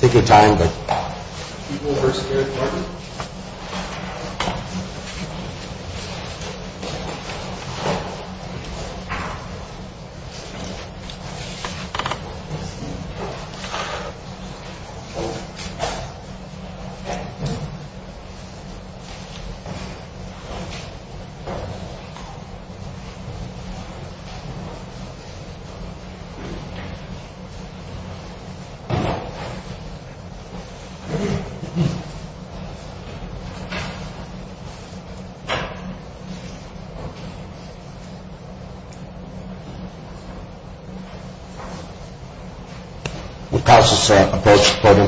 Take your time, but do over to the other compartment.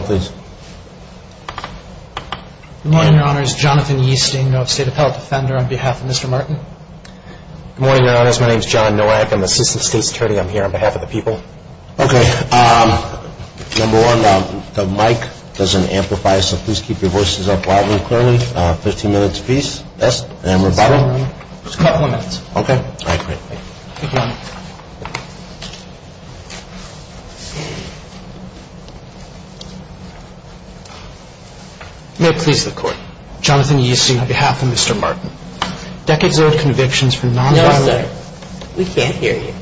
Good morning, your honors, my name is John Norack, I'm the Assistant State Secretary and I'm here on behalf of the people. Okay, number one, the mic doesn't amplify, so please keep your voices up loudly and clearly. Fifteen minutes a piece. Yes, and number five. Just a couple of minutes. Okay, all right, great. Good morning. May it please the court. Jonathan Yesu on behalf of Mr. Martin. Decades old convictions for non-violent... No, sir. We can't hear you.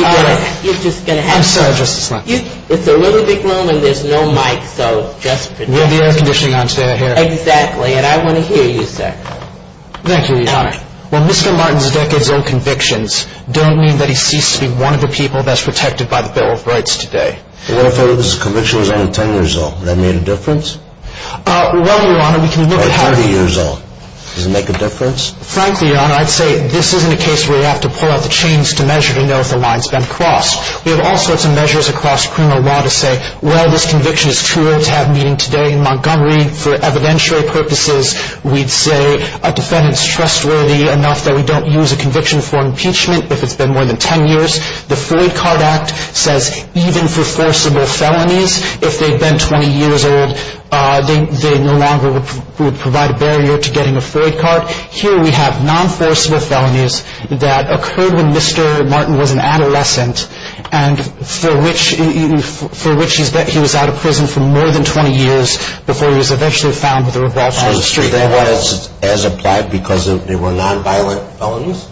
All right, you're just going to have to... I'm sorry, just a second. It's a little big room and there's no mic, so just pretend... You have the air conditioning on, stay right here. Exactly, and I want to hear you, sir. Thank you, your honor. Well, Mr. Martin's decades old convictions don't mean that he ceased to be one of the people best protected by the Bill of Rights today. What if his conviction was only ten years old? Would that make a difference? Well, your honor, we can look at how... Or thirty years old. Does it make a difference? Frankly, your honor, I'd say this isn't a case where you have to pull out the chains to measure to know if the line's been crossed. We have all sorts of measures across criminal law to say, well, this conviction is too old to have meaning today in Montgomery. For evidentiary purposes, we'd say a defendant's trustworthy enough that we don't use a conviction for impeachment if it's been more than ten years. The Floyd Card Act says even for forcible felonies, if they've been 20 years old, they no longer would provide a barrier to getting a Floyd card. Here we have non-forcible felonies that occurred when Mr. Martin was an adolescent, and for which he was out of prison for more than 20 years before he was eventually found with a revolt on the street. So they weren't as applied because they were non-violent felonies?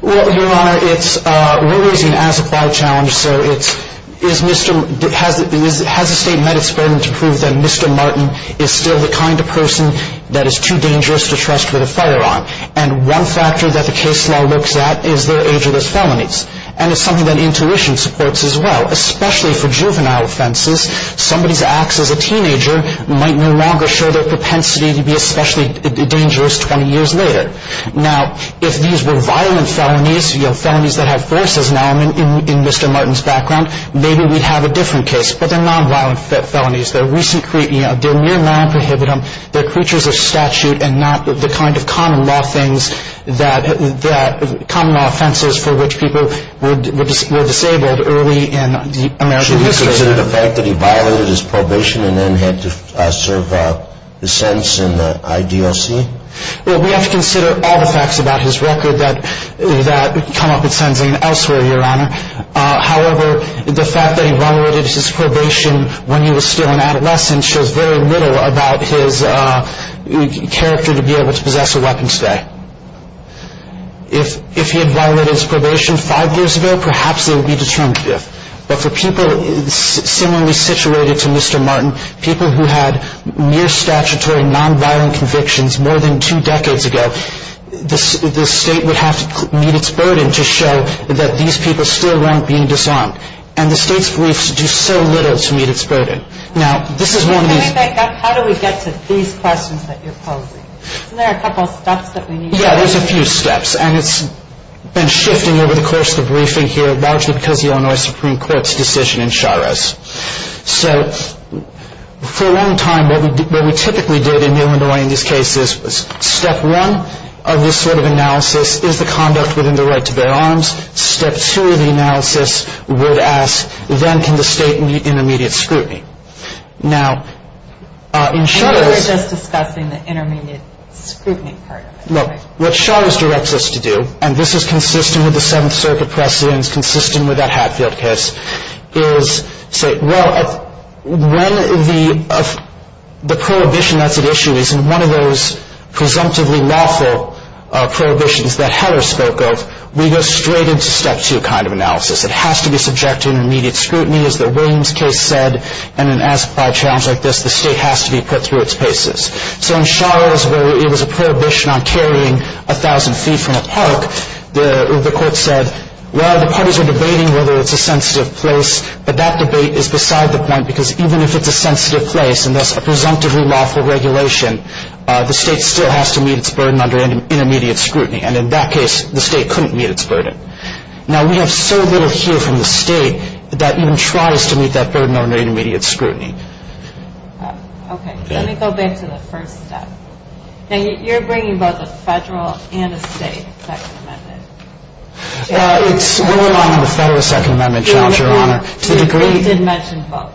Well, your honor, we're raising an as-applied challenge, so has the state met its burden to prove that Mr. Martin is still the kind of person that is too dangerous to trust with a firearm? And one factor that the case law looks at is their age of those felonies. And it's something that intuition supports as well, especially for juvenile offenses. Somebody's acts as a teenager might no longer show their propensity to be especially dangerous 20 years later. Now, if these were violent felonies, felonies that have forces now in Mr. Martin's background, maybe we'd have a different case. But they're non-violent felonies. They're mere non-prohibitum. They're creatures of statute and not the kind of common law offenses for which people were disabled early in American history. Should we consider the fact that he violated his probation and then had to serve his sentence in the IDLC? Well, we have to consider all the facts about his record that come up in sentencing elsewhere, your honor. However, the fact that he violated his probation when he was still an adolescent shows very little about his character to be able to possess a weapon today. If he had violated his probation five years ago, perhaps it would be determinative. But for people similarly situated to Mr. Martin, people who had mere statutory non-violent convictions more than two decades ago, the state would have to meet its burden to show that these people still weren't being disarmed. And the state's briefs do so little to meet its burden. Now, this is one of these... How do we get to these questions that you're posing? Isn't there a couple of steps that we need to take? Yeah, there's a few steps. And it's been shifting over the course of the briefing here, largely because of the Illinois Supreme Court's decision in Sharos. So for a long time, what we typically did in Illinois in these cases, was step one of this sort of analysis is the conduct within the right to bear arms. Step two of the analysis would ask, then can the state meet intermediate scrutiny? Now, in Sharos... And you were just discussing the intermediate scrutiny part of it, right? Look, what Sharos directs us to do, and this is consistent with the Seventh Circuit precedents, consistent with that Hatfield case, is say, well, when the prohibition that's at issue is in one of those presumptively lawful prohibitions that Heller spoke of, we go straight into step two kind of analysis. It has to be subject to intermediate scrutiny, as the Williams case said, and in an as-plied challenge like this, the state has to be put through its paces. So in Sharos, where it was a prohibition on carrying 1,000 feet from a park, the court said, well, the parties are debating whether it's a sensitive place, but that debate is beside the point, because even if it's a sensitive place, and that's a presumptively lawful regulation, the state still has to meet its burden under intermediate scrutiny, and in that case, the state couldn't meet its burden. Now, we have so little here from the state that that even tries to meet that burden under intermediate scrutiny. Okay, let me go back to the first step. Now, you're bringing both a federal and a state Second Amendment. It's what went on in the federal Second Amendment challenge, Your Honor. It did mention both.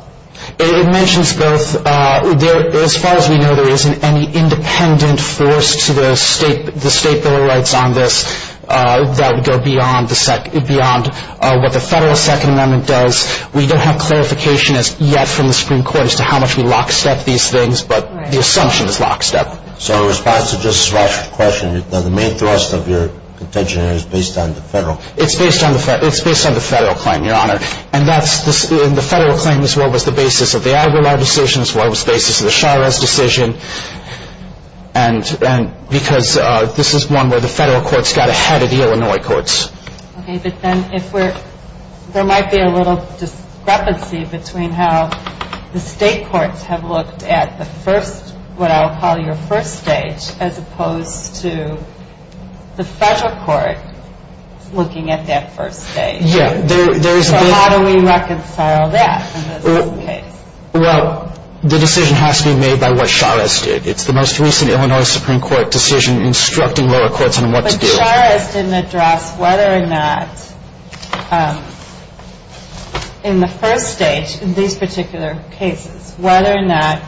It mentions both. As far as we know, there isn't any independent force to the state bill of rights on this that would go beyond what the federal Second Amendment does. We don't have clarification as yet from the Supreme Court as to how much we lock-step these things, but the assumption is lock-step. So in response to Justice Rauch's question, the main thrust of your contention is based on the federal. It's based on the federal claim, Your Honor, and the federal claim is what was the basis of the Aguilar decision, it's what was the basis of the Chavez decision, because this is one where the federal courts got ahead of the Illinois courts. Okay, but then there might be a little discrepancy between how the state courts have looked at the first, what I'll call your first stage, as opposed to the federal court looking at that first stage. Yeah. So how do we reconcile that in this case? Well, the decision has to be made by what Chavez did. It's the most recent Illinois Supreme Court decision instructing lower courts on what to do. Chavez didn't address whether or not in the first stage, in these particular cases, whether or not,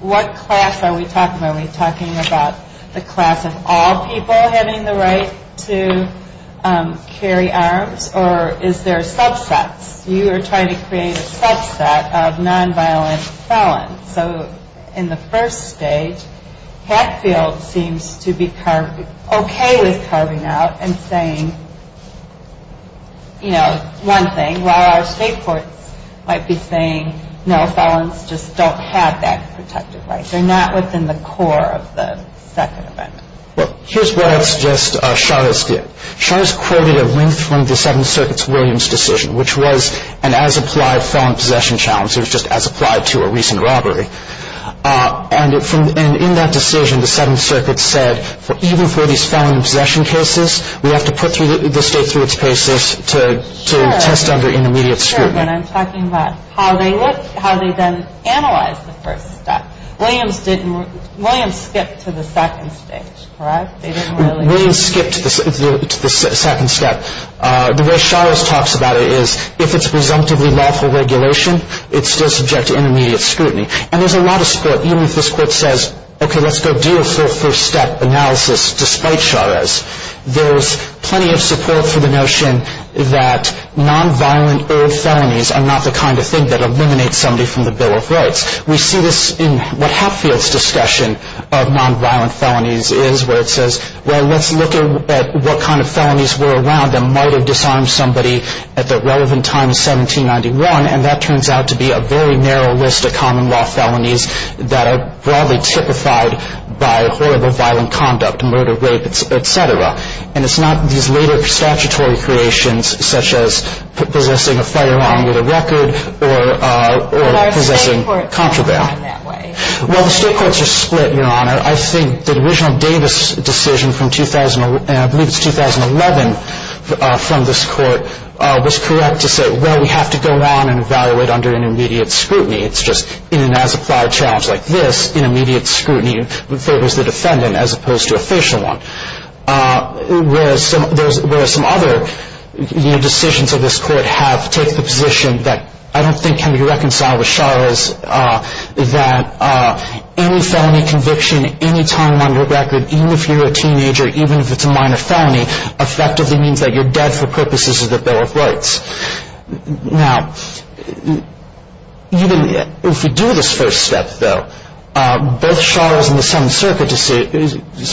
what class are we talking about? Are we talking about the class of all people having the right to carry arms, or is there subsets? You are trying to create a subset of nonviolent felons. So in the first stage, Hatfield seems to be okay with carving out and saying, you know, one thing, while our state courts might be saying, no, felons just don't have that protective right. They're not within the core of the second amendment. Well, here's what I'd suggest Chavez did. Chavez quoted a link from the Seventh Circuit's Williams decision, which was an as-applied felon possession challenge. It was just as applied to a recent robbery. And in that decision, the Seventh Circuit said, even for these felon possession cases, we have to put the state through its paces to test under intermediate scrutiny. Sure, but I'm talking about how they then analyzed the first step. Williams skipped to the second stage, correct? Williams skipped to the second step. The way Chavez talks about it is, if it's presumptively lawful regulation, it's still subject to intermediate scrutiny. And there's a lot of support, even if this court says, okay, let's go do a full first-step analysis, despite Chavez. There's plenty of support for the notion that nonviolent-erred felonies are not the kind of thing that eliminates somebody from the Bill of Rights. We see this in what Hatfield's discussion of nonviolent felonies is, where it says, well, let's look at what kind of felonies were around that might have disarmed somebody at the relevant time in 1791. And that turns out to be a very narrow list of common-law felonies that are broadly typified by horrible violent conduct, murder, rape, et cetera. And it's not these later statutory creations, such as possessing a firearm with a record or possessing contraband. But our state courts are not in that way. Well, the state courts are split, Your Honor. I think the original Davis decision from 2011, I believe it's 2011, from this court, was correct to say, well, we have to go on and evaluate under intermediate scrutiny. It's just in an as-applied challenge like this, intermediate scrutiny favors the defendant as opposed to a facial one. Whereas some other decisions of this court have taken the position that I don't think can be reconciled with Chavez, that any felony conviction, any time on your record, even if you're a teenager, even if it's a minor felony, effectively means that you're dead for purposes of the Bill of Rights. Now, even if we do this first step, though, both Chavez and the Seventh Circuit's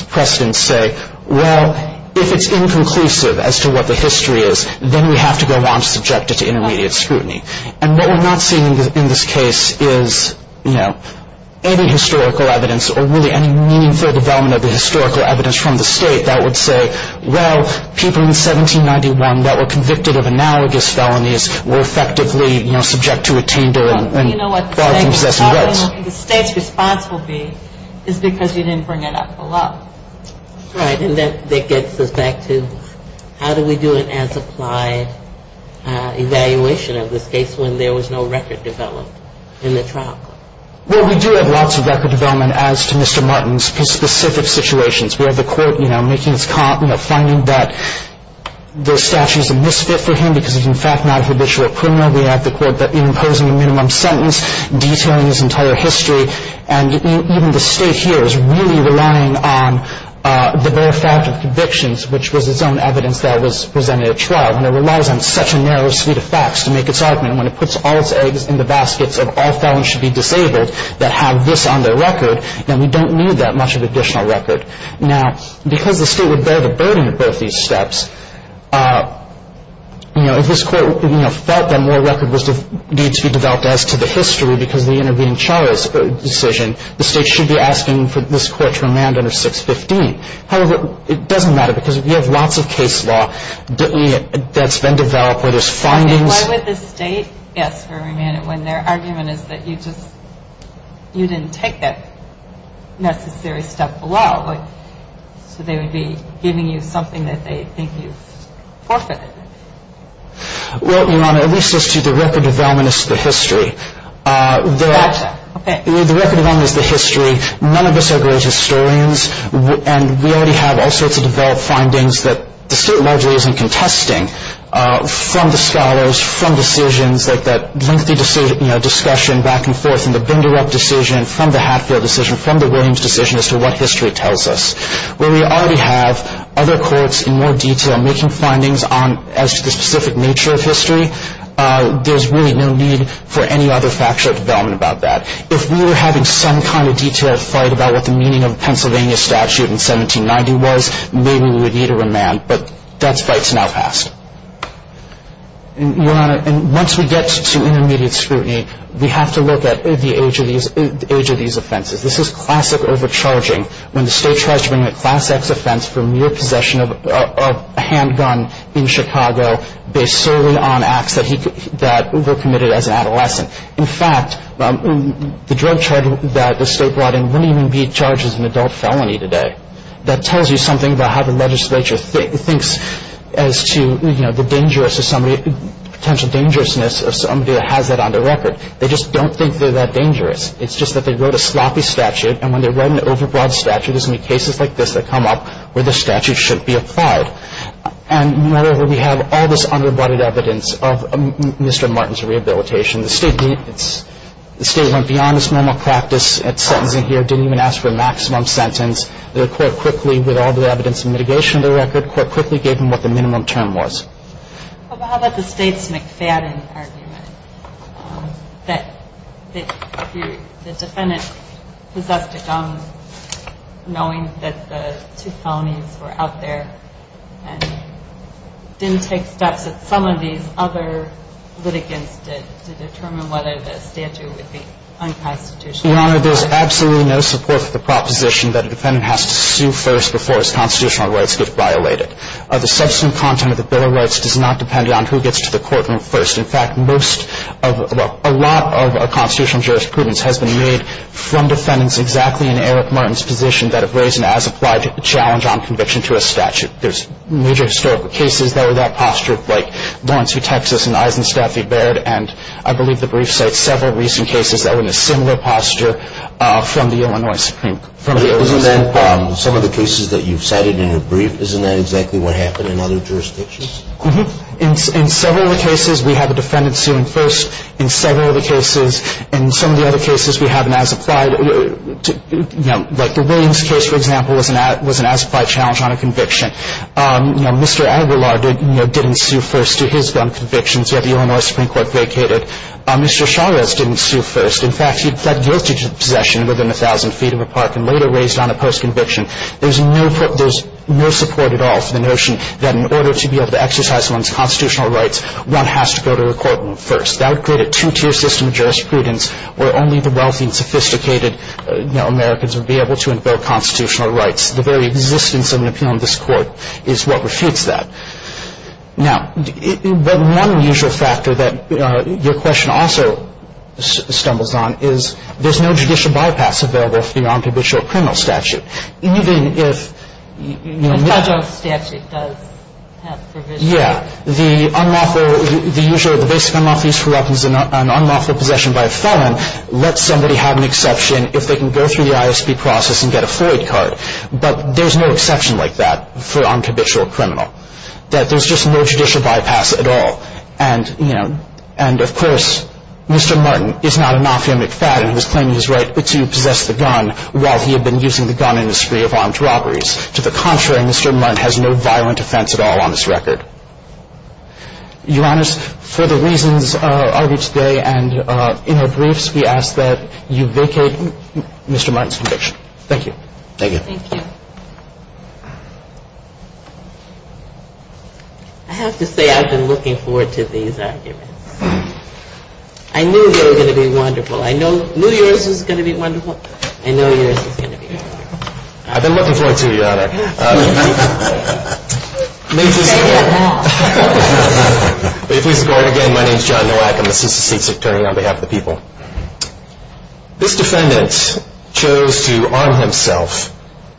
precedents say, well, if it's inconclusive as to what the history is, then we have to go on subjected to intermediate scrutiny. And what we're not seeing in this case is, you know, any historical evidence or really any meaningful development of the historical evidence from the state that would say, well, people in 1791 that were convicted of analogous felonies were effectively, you know, subject to a tender and barred from possessing rights. You know what they say, the state's responsibility is because you didn't bring it up enough. All right, and that gets us back to how do we do an as-applied evaluation of this case when there was no record developed in the trial? Well, we do have lots of record development as to Mr. Martin's specific situations. We have the court, you know, making its finding that the statute is a misfit for him because he's in fact not a habitual criminal. We have the court imposing a minimum sentence, detailing his entire history. And even the state here is really relying on the bare fact of convictions, which was its own evidence that was presented at trial. And it relies on such a narrow suite of facts to make its argument. When it puts all its eggs in the baskets of all felons should be disabled that have this on their record, then we don't need that much of additional record. Now, because the state would bear the burden of both these steps, you know, if this court, you know, felt that more record was due to be developed as to the history because of the intervening charge decision, the state should be asking for this court to remand under 615. However, it doesn't matter because we have lots of case law that's been developed where there's findings. Why would the state ask for a remand when their argument is that you just, you didn't take that necessary step below? So they would be giving you something that they think you've forfeited. Well, Your Honor, at least as to the record development as to the history, the record development as to the history, none of us are great historians, and we already have all sorts of developed findings that the state largely isn't contesting from the scholars, from decisions like that lengthy discussion back and forth in the Binderup decision, from the Hatfield decision, from the Williams decision as to what history tells us. Where we already have other courts in more detail making findings as to the specific nature of history, there's really no need for any other factual development about that. If we were having some kind of detailed fight about what the meaning of the Pennsylvania statute in 1790 was, maybe we would need a remand, but that fight's now passed. And, Your Honor, once we get to intermediate scrutiny, we have to look at the age of these offenses. This is classic overcharging when the state tries to bring a Class X offense for mere possession of a handgun in Chicago based solely on acts that were committed as an adolescent. In fact, the drug charge that the state brought in wouldn't even be charged as an adult felony today. That tells you something about how the legislature thinks as to, you know, the potential dangerousness of somebody that has that on their record. They just don't think they're that dangerous. It's just that they wrote a sloppy statute, and when they write an overbroad statute, there's going to be cases like this that come up where the statute shouldn't be applied. And, moreover, we have all this underbutted evidence of Mr. Martin's rehabilitation. The state went beyond its normal practice at sentencing here, didn't even ask for a maximum sentence. The court quickly, with all the evidence and mitigation of the record, the court quickly gave him what the minimum term was. How about the State's McFadden argument that the defendant possessed a gun knowing that the two felonies were out there and didn't take steps that some of these other litigants did to determine whether the statute would be unconstitutional? Your Honor, there's absolutely no support for the proposition that a defendant has to sue first before his constitutional rights get violated. The subsequent content of the Bill of Rights does not depend on who gets to the courtroom first. In fact, a lot of our constitutional jurisprudence has been made from defendants exactly in Eric Martin's position that have raised an as-applied challenge on conviction to a statute. There's major historical cases that were that posture, like Lawrence v. Texas and Eisenstaff v. Baird, and I believe the brief cites several recent cases that were in a similar posture from the Illinois Supreme Court. Isn't that some of the cases that you've cited in your brief? Isn't that exactly what happened in other jurisdictions? In several of the cases, we have a defendant suing first. In several of the cases, in some of the other cases, we have an as-applied, you know, like the Williams case, for example, was an as-applied challenge on a conviction. You know, Mr. Aguilar didn't sue first to his gun convictions, yet the Illinois Supreme Court vacated. Mr. Chavez didn't sue first. In fact, he pled guilty to possession within 1,000 feet of a park and later raised on a post-conviction. There's no support at all for the notion that in order to be able to exercise one's constitutional rights, one has to go to a court first. That would create a two-tier system of jurisprudence where only the wealthy and sophisticated, you know, Americans would be able to invoke constitutional rights. The very existence of an appeal in this Court is what refutes that. Now, one unusual factor that your question also stumbles on is there's no judicial bypass available for the non-cabitual criminal statute. Even if, you know, The federal statute does have provisions. Yeah. The unlawful, the usual, the basic unlawful use for weapons and unlawful possession by a felon lets somebody have an exception if they can go through the ISP process and get a Floyd card. But there's no exception like that for a non-cabitual criminal. That there's just no judicial bypass at all. And, you know, and of course, Mr. Martin is not a non-femic fat and he was claiming his right to possess the gun while he had been using the gun in a spree of armed robberies. To the contrary, Mr. Martin has no violent offense at all on this record. Your Honors, for the reasons argued today and in our briefs, we ask that you vacate Mr. Martin's conviction. Thank you. Thank you. I have to say I've been looking forward to these arguments. I knew they were going to be wonderful. I know New Year's is going to be wonderful. I know New Year's is going to be wonderful. I've been looking forward to it, Your Honor. May it please the court. May it please the court. Again, my name is John Nowak. I'm an assistant state's attorney on behalf of the people. This defendant chose to arm himself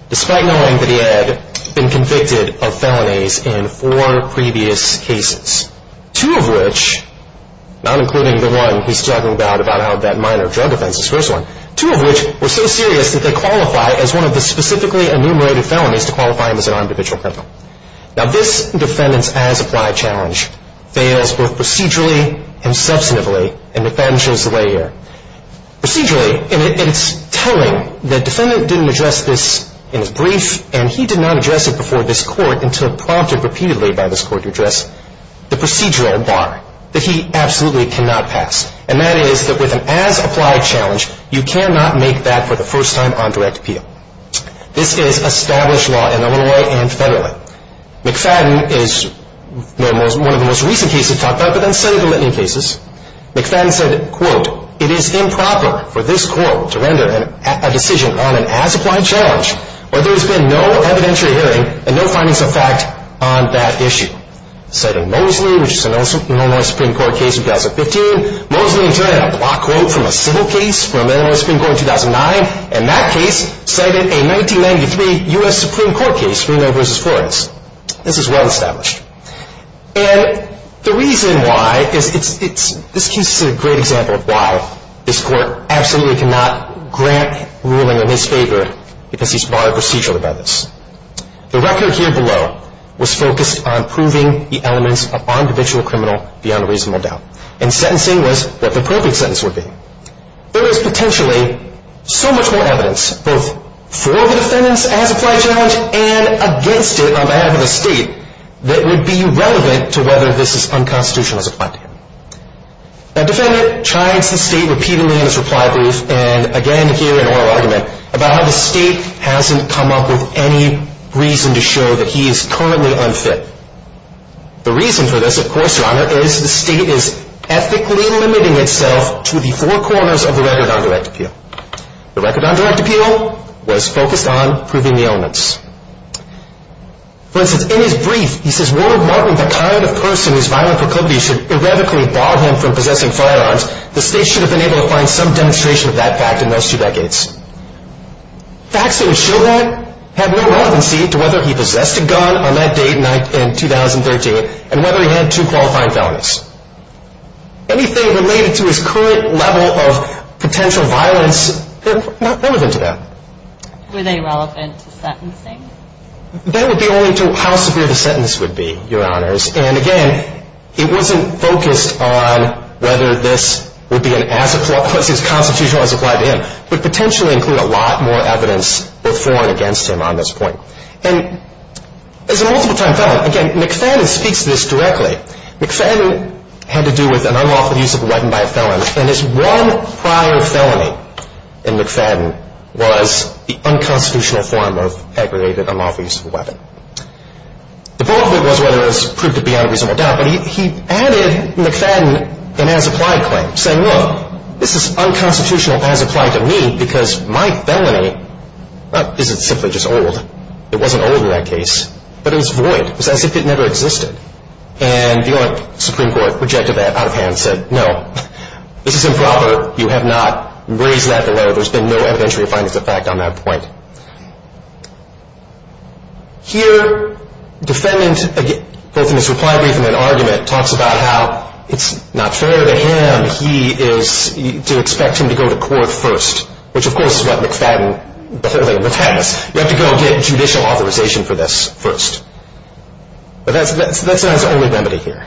despite knowing that he had been convicted of felonies in four previous cases, two of which, not including the one he's talking about, about how that minor drug offense is first one, two of which were so serious that they qualify as one of the specifically enumerated felonies to qualify him as an armed habitual criminal. Now, this defendant's as-applied challenge fails both procedurally and substantively in McFadden's layer. Procedurally, and it's telling, the defendant didn't address this in his brief, and he did not address it before this court until prompted repeatedly by this court to address the procedural bar that he absolutely cannot pass, and that is that with an as-applied challenge, you cannot make that for the first time on direct appeal. This is established law in Illinois and federally. McFadden is one of the most recent cases talked about, but then several litany of cases. McFadden said, quote, it is improper for this court to render a decision on an as-applied challenge where there has been no evidentiary hearing and no findings of fact on that issue. Citing Mosley, which is an Illinois Supreme Court case in 2015, Mosley interred a block quote from a civil case from Illinois Supreme Court in 2009, and that case cited a 1993 U.S. Supreme Court case, Reno v. Flores. This is well established. And the reason why is this case is a great example of why this court absolutely cannot grant ruling in his favor because he's barred procedurally by this. The record here below was focused on proving the elements of on-judicial criminal beyond a reasonable doubt, and sentencing was what the perfect sentence would be. There is potentially so much more evidence, both for the defendant's as-applied challenge and against it on behalf of the state, that would be relevant to whether this is unconstitutional as applied to him. The defendant chides the state repeatedly in his reply brief, and again here in oral argument, about how the state hasn't come up with any reason to show that he is currently unfit. The reason for this, of course, Your Honor, is the state is ethically limiting itself to the four corners of the record on direct appeal. The record on direct appeal was focused on proving the elements. For instance, in his brief, he says, Warren Martin, the kind of person whose violent proclivities should erratically bar him from possessing firearms, the state should have been able to find some demonstration of that fact in those two decades. Facts that would show that have no relevancy to whether he possessed a gun on that date in 2013, and whether he had two qualifying felonies. Anything related to his current level of potential violence, not relevant to that. Were they relevant to sentencing? That would be only to how severe the sentence would be, Your Honors, and again, it wasn't focused on whether this would be as constitutional as applied to him, but potentially include a lot more evidence before and against him on this point. And as a multiple time felon, again, McFadden speaks to this directly. McFadden had to do with an unlawful use of a weapon by a felon, and his one prior felony in McFadden was the unconstitutional form of aggravated unlawful use of a weapon. The bulk of it was whether it was proved to be unreasonable doubt, but he added McFadden an as-applied claim, saying, look, this is unconstitutional as applied to me because my felony isn't simply just old. It wasn't old in that case, but it was void. It was as if it never existed. And the Supreme Court rejected that out of hand and said, no, this is improper. You have not raised that below. There's been no evidentiary findings of fact on that point. Here, defendant, both in his reply brief and in an argument, talks about how it's not fair to him to expect him to go to court first, which, of course, is what McFadden, the whole thing, protects. You have to go get judicial authorization for this first. But that's not his only remedy here.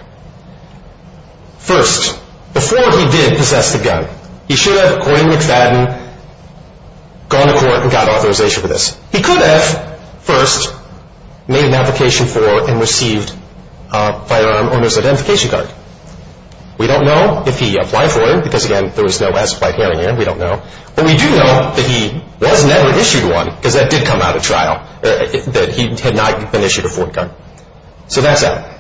First, before he did possess the gun, he should have, according to McFadden, gone to court and got authorization for this. He could have first made an application for and received a firearm owner's identification card. We don't know if he applied for it because, again, there was no as-applied hearing here. We don't know. But we do know that he was never issued one because that did come out of trial, that he had not been issued a foreign gun. So that's that.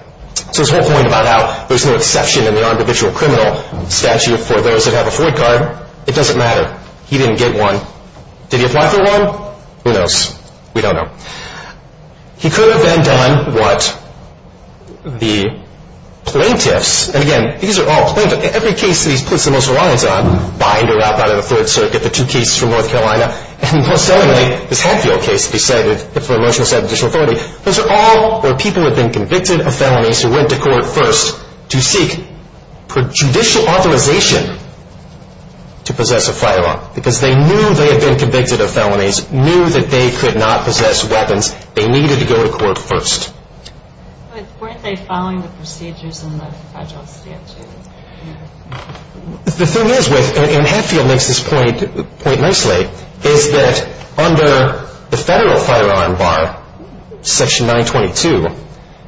So this whole point about how there's no exception in the individual criminal statute for those that have a foreign card, it doesn't matter. He didn't get one. Did he apply for one? Who knows? We don't know. He could have then done what the plaintiffs, and, again, these are all plaintiffs. Every case that he puts the most reliance on, bind or wrap out of the Third Circuit, the two cases from North Carolina, and, most certainly, this Hadfield case, decided for a motion to set additional authority, those are all where people have been convicted of felonies who went to court first to seek judicial authorization to possess a firearm because they knew they had been convicted of felonies, knew that they could not possess weapons. They needed to go to court first. But weren't they following the procedures in the federal statute? The thing is with, and Hadfield makes this point nicely, is that under the federal firearm bar, Section 922,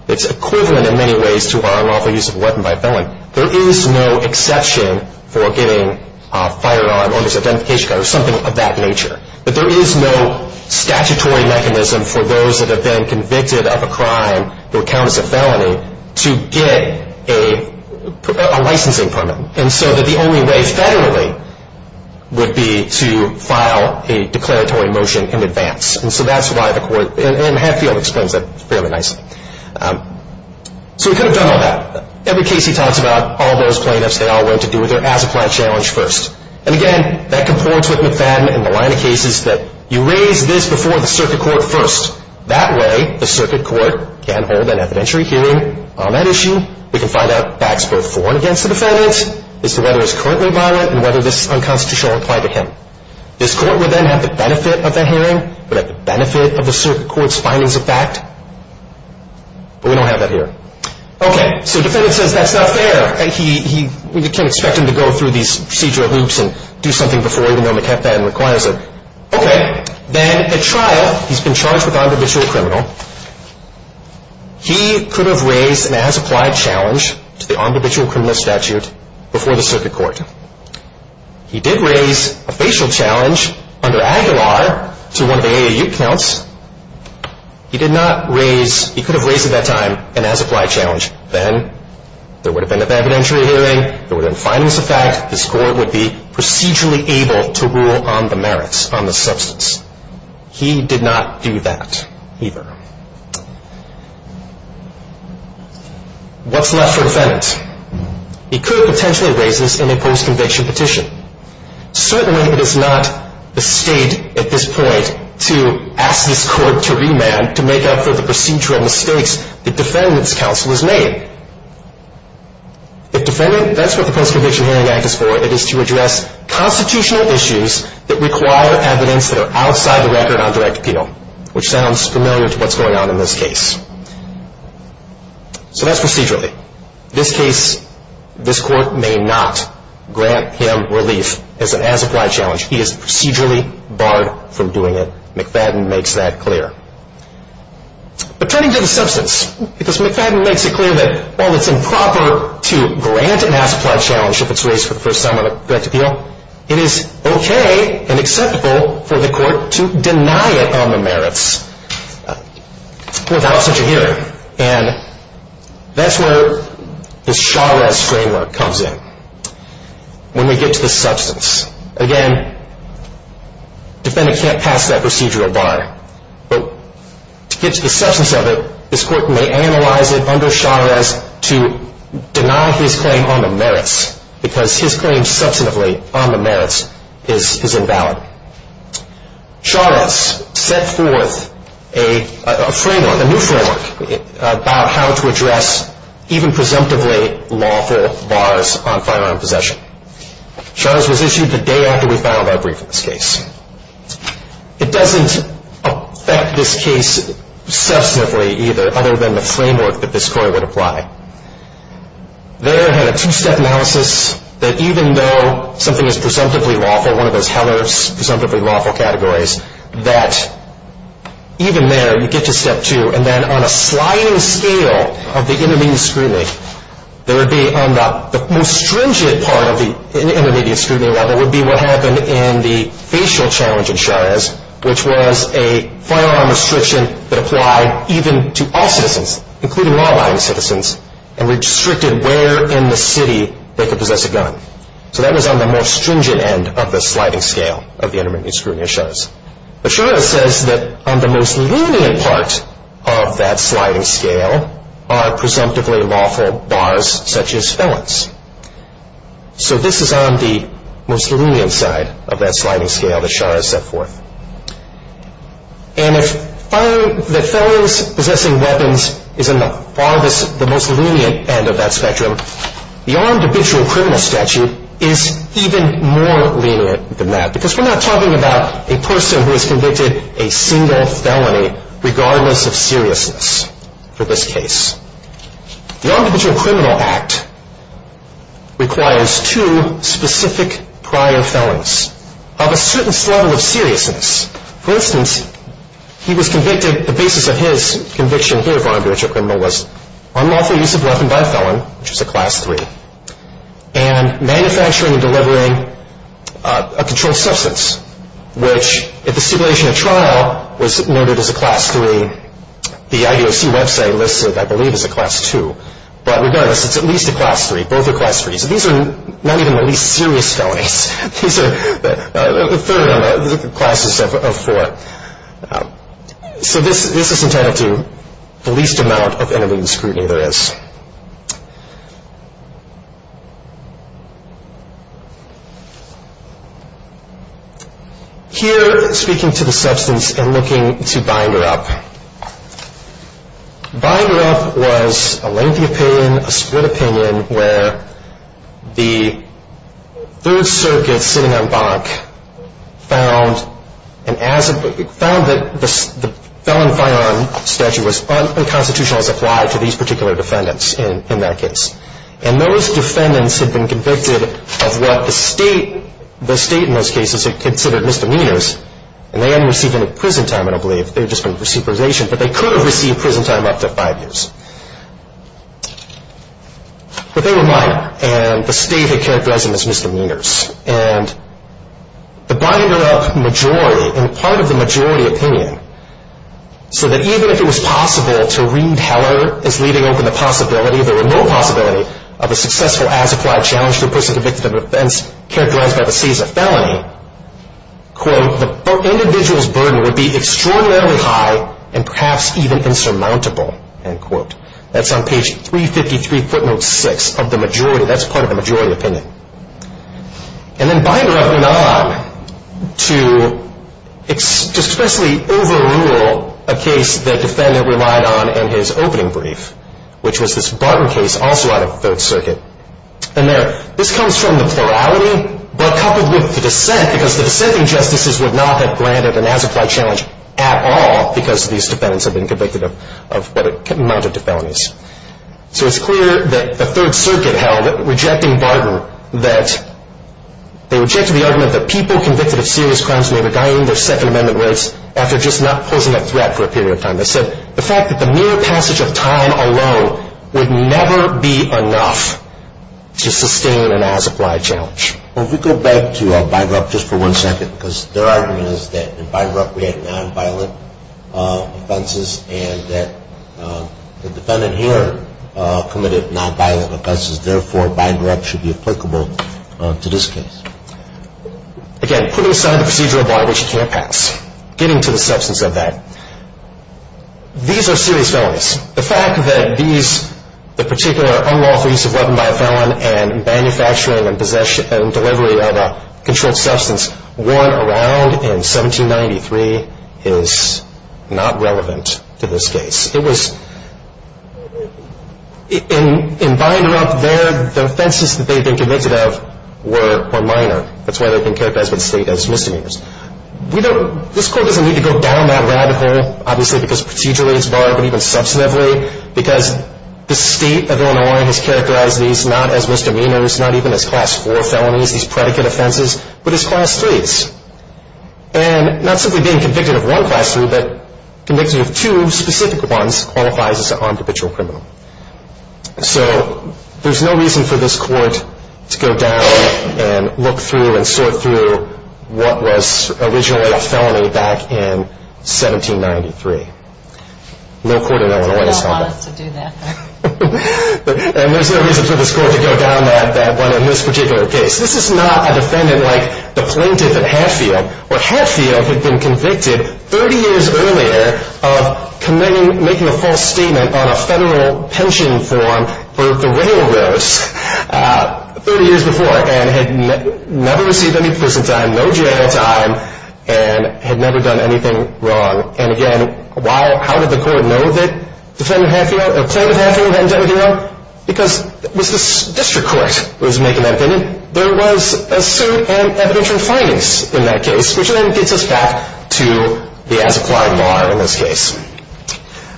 it's equivalent in many ways to our unlawful use of a weapon by a felon. There is no exception for getting a firearm under identification card or something of that nature. But there is no statutory mechanism for those that have been convicted of a crime or count as a felony to get a licensing permit. And so that the only way federally would be to file a declaratory motion in advance. And so that's why the court, and Hadfield explains that fairly nicely. So we could have done all that. Every case he talks about, all those plaintiffs, they all went to do their as-applied challenge first. And, again, that comports with McFadden in the line of cases that you raise this before the circuit court first. That way, the circuit court can hold an evidentiary hearing on that issue. We can find out facts both for and against the defendant, as to whether it's currently violent and whether this is unconstitutional or applied to him. This court would then have the benefit of that hearing, would have the benefit of the circuit court's findings of fact. But we don't have that here. Okay, so the defendant says that's not fair. We can't expect him to go through these procedural loops and do something before, even though McFadden requires it. Okay. Then at trial, he's been charged with on-divisional criminal. He could have raised an as-applied challenge to the on-divisional criminal statute before the circuit court. He did raise a facial challenge under Aguilar to one of the AAU counts. He did not raise, he could have raised at that time, an as-applied challenge. Then there would have been an evidentiary hearing. There would have been findings of fact. This court would be procedurally able to rule on the merits, on the substance. He did not do that either. What's left for defendants? He could potentially raise this in a post-conviction petition. Certainly, it is not the state at this point to ask this court to remand, to make up for the procedural mistakes the defendant's counsel has made. If defendant, that's what the Post-Conviction Hearing Act is for. It is to address constitutional issues that require evidence that are outside the record on direct penal, which sounds familiar to what's going on in this case. So that's procedurally. This case, this court may not grant him relief as an as-applied challenge. He is procedurally barred from doing it. McFadden makes that clear. But turning to the substance, because McFadden makes it clear that while it's improper to grant an as-applied challenge if it's raised for the first time on a direct appeal, it is okay and acceptable for the court to deny it on the merits without such a hearing. And that's where this Chavez framework comes in when we get to the substance. Again, defendant can't pass that procedural bar. But to get to the substance of it, this court may analyze it under Chavez to deny his claim on the merits, because his claim substantively on the merits is invalid. Chavez set forth a framework, a new framework, about how to address even presumptively lawful bars on firearm possession. Chavez was issued the day after we filed our brief in this case. It doesn't affect this case substantively either, other than the framework that this court would apply. There had a two-step analysis that even though something is presumptively lawful, one of those Heller's presumptively lawful categories, that even there you get to step two. And then on a sliding scale of the intermediate scrutiny, there would be on the most stringent part of the intermediate scrutiny level would be what happened in the facial challenge in Chavez, which was a firearm restriction that applied even to all citizens, including law-abiding citizens, and restricted where in the city they could possess a gun. So that was on the most stringent end of the sliding scale of the intermediate scrutiny of Chavez. But Chavez says that on the most lenient part of that sliding scale are presumptively lawful bars such as felons. So this is on the most lenient side of that sliding scale that Shah has set forth. And if the felons possessing weapons is on the most lenient end of that spectrum, the armed habitual criminal statute is even more lenient than that because we're not talking about a person who has convicted a single felony regardless of seriousness for this case. The armed habitual criminal act requires two specific prior felons of a certain level of seriousness. For instance, he was convicted, the basis of his conviction here of armed habitual criminal was unlawful use of a weapon by a felon, which was a class three, and manufacturing and delivering a controlled substance, which at the stipulation of trial was noted as a class three. The IDOC website lists it, I believe, as a class two. But regardless, it's at least a class three. Both are class threes. These are not even the least serious felonies. These are a third of the classes of four. So this is entitled to the least amount of intermediate scrutiny there is. Here, speaking to the substance and looking to binder up, binder up was a lengthy opinion, a split opinion, where the third circuit sitting on bonk found that the felon firearm statute was unconstitutional as applied to these particular defendants in that case. And those defendants had been convicted of what the state, the state in those cases had considered misdemeanors, and they hadn't received any prison time, I don't believe. They had just been for supervision. But they could have received prison time up to five years. But they were minor, and the state had characterized them as misdemeanors. And the binder up majority, and part of the majority opinion, so that even if it was possible to read Heller as leaving open the possibility, the remote possibility of a successful as-applied challenge to a person convicted of an offense characterized by the state as a felony, quote, the individual's burden would be extraordinarily high and perhaps even insurmountable, end quote. That's on page 353, footnote six of the majority. That's part of the majority opinion. And then binder up none to expressly overrule a case that defendant relied on in his opening brief, which was this Barton case also out of Third Circuit. And this comes from the plurality, but coupled with the dissent, because the dissenting justices would not have granted an as-applied challenge at all because these defendants had been convicted of what amounted to felonies. So it's clear that the Third Circuit held, rejecting Barton, that they rejected the argument that people convicted of serious crimes may be dying their Second Amendment rights after just not posing a threat for a period of time. They said the fact that the mere passage of time alone would never be enough to sustain an as-applied challenge. Well, if we go back to binder up just for one second, because their argument is that in binder up we had nonviolent offenses and that the defendant here committed nonviolent offenses, therefore binder up should be applicable to this case. Again, putting aside the procedural bar which can't pass, getting to the substance of that. These are serious felonies. The fact that these, the particular unlawful use of weapon by a felon and manufacturing and delivery of a controlled substance worn around in 1793 is not relevant to this case. It was, in binder up there, the offenses that they'd been convicted of were minor. That's why they've been characterized by the state as misdemeanors. We don't, this court doesn't need to go down that rabbit hole, obviously because procedurally it's barred, but even substantively, because the state of Illinois has characterized these not as misdemeanors, not even as class four felonies, these predicate offenses, but as class threes, and not simply being convicted of one class three, but convicted of two specific ones qualifies as an armed habitual criminal. So there's no reason for this court to go down and look through and sort through what was originally a felony back in 1793. No court in Illinois has done that. That's why they don't want us to do that. And there's no reason for this court to go down that one in this particular case. This is not a defendant like the plaintiff at Hatfield, where Hatfield had been convicted 30 years earlier of committing, making a false statement on a federal pension form for the railroads 30 years before, and had never received any prison time, no jail time, and had never done anything wrong. And again, how did the court know that defendant Hatfield, plaintiff Hatfield hadn't done anything wrong? Because it was the district court that was making that opinion. There was a suit and evidentiary finance in that case, which then gets us back to the as-applied law in this case.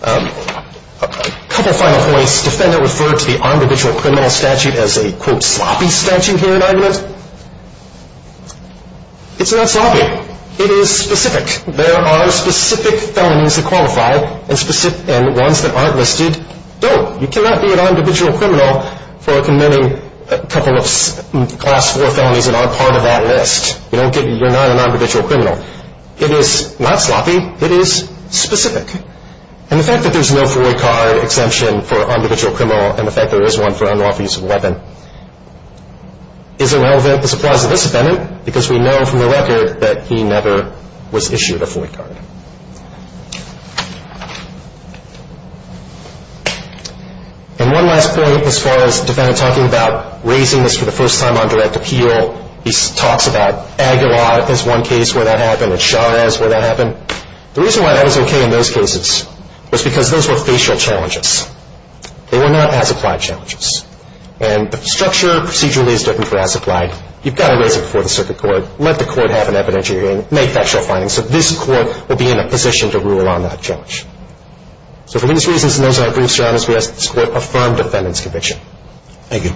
A couple of final points. Defendant referred to the armed habitual criminal statute as a, quote, sloppy statute here in argument. It's not sloppy. It is specific. There are specific felonies that qualify, and ones that aren't listed don't. You cannot be an armed habitual criminal for committing a couple of Class IV felonies that aren't part of that list. You're not an armed habitual criminal. It is not sloppy. It is specific. And the fact that there's no FOIA card exemption for armed habitual criminal, and the fact there is one for unlawful use of a weapon, isn't relevant to the supplies of this defendant, because we know from the record that he never was issued a FOIA card. And one last point as far as the defendant talking about raising this for the first time on direct appeal. He talks about Aguilar as one case where that happened, and Chavez where that happened. The reason why that was okay in those cases was because those were facial challenges. They were not as-applied challenges. And the structure procedurally is different for as-applied. You've got to raise it before the circuit court. Let the court have an evidentiary hearing. Make factual findings. So this court will be in a position to rule on that judge. So for these reasons, and those are our brief surroundings, we ask that this court affirm defendant's conviction. Thank you.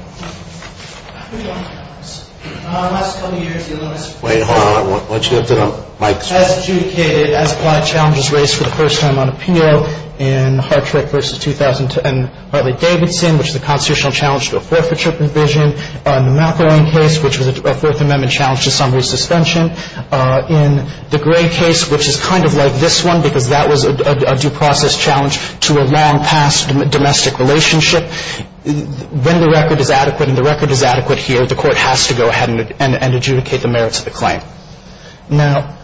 Wait, hold on. Why don't you lift it up? Mike. As adjudicated, as-applied challenges raised for the first time on appeal in Hartrick v. Davidson, which is a constitutional challenge to a forfeiture provision. In the McElwain case, which was a Fourth Amendment challenge to summary suspension. In the Gray case, which is kind of like this one, because that was a due process challenge to a long-past domestic relationship. When the record is adequate and the record is adequate here, the court has to go ahead and adjudicate the merits of the claim. Now,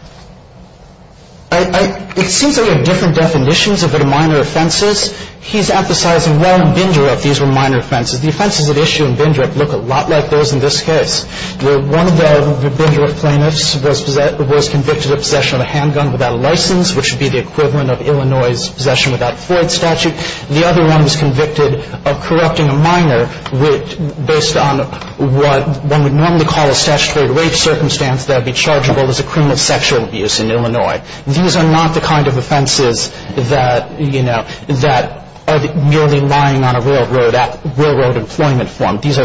it seems that we have different definitions of what a minor offense is. He's emphasizing well in Bindra that these were minor offenses. The offenses at issue in Bindra look a lot like those in this case, where one of the Bindra plaintiffs was convicted of possession of a handgun without a license, which would be the equivalent of Illinois' possession without a Floyd statute. The other one was convicted of corrupting a minor based on what one would normally call a statutory rape circumstance that would be chargeable as a criminal sexual abuse in Illinois. These are not the kind of offenses that, you know, that are merely lying on a railroad at railroad employment form. These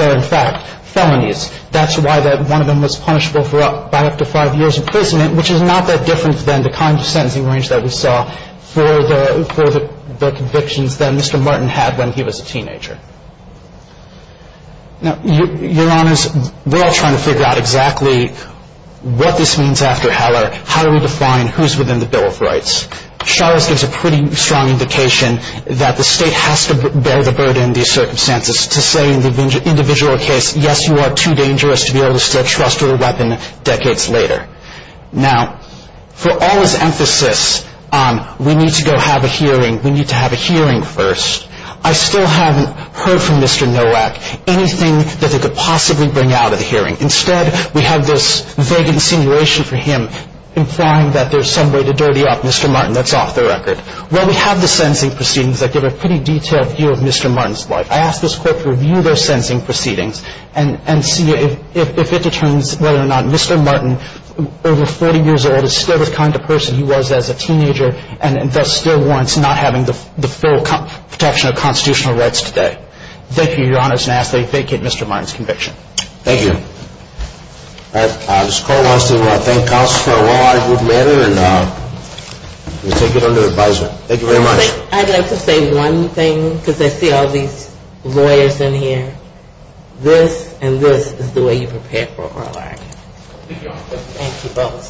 are in fact felonies. That's why one of them was punishable for up to five years in prison, which is not that different than the kind of sentencing range that we saw for the convictions that Mr. Martin had when he was a teenager. Now, Your Honors, we're all trying to figure out exactly what this means after Heller. How do we define who's within the Bill of Rights? Charles gives a pretty strong indication that the state has to bear the burden of these circumstances to say in the individual case, yes, you are too dangerous to be able to still trust with a weapon decades later. Now, for all his emphasis on we need to go have a hearing, we need to have a hearing first, I still haven't heard from Mr. Nowak anything that they could possibly bring out of the hearing. Instead, we have this vague insinuation for him implying that there's some way to dirty up Mr. Martin. That's off the record. Well, we have the sentencing proceedings that give a pretty detailed view of Mr. Martin's life. I ask this Court to review those sentencing proceedings and see if it determines whether or not Mr. Martin, over 40 years old, is still the kind of person he was as a teenager and thus still warrants not having the full protection of constitutional rights today. Thank you. Thank you. All right. This Court wants to thank counsel for a worldwide good manner and we take it under advisement. Thank you very much. I'd like to say one thing because I see all these lawyers in here. This and this is the way you prepare for a war like. Thank you both.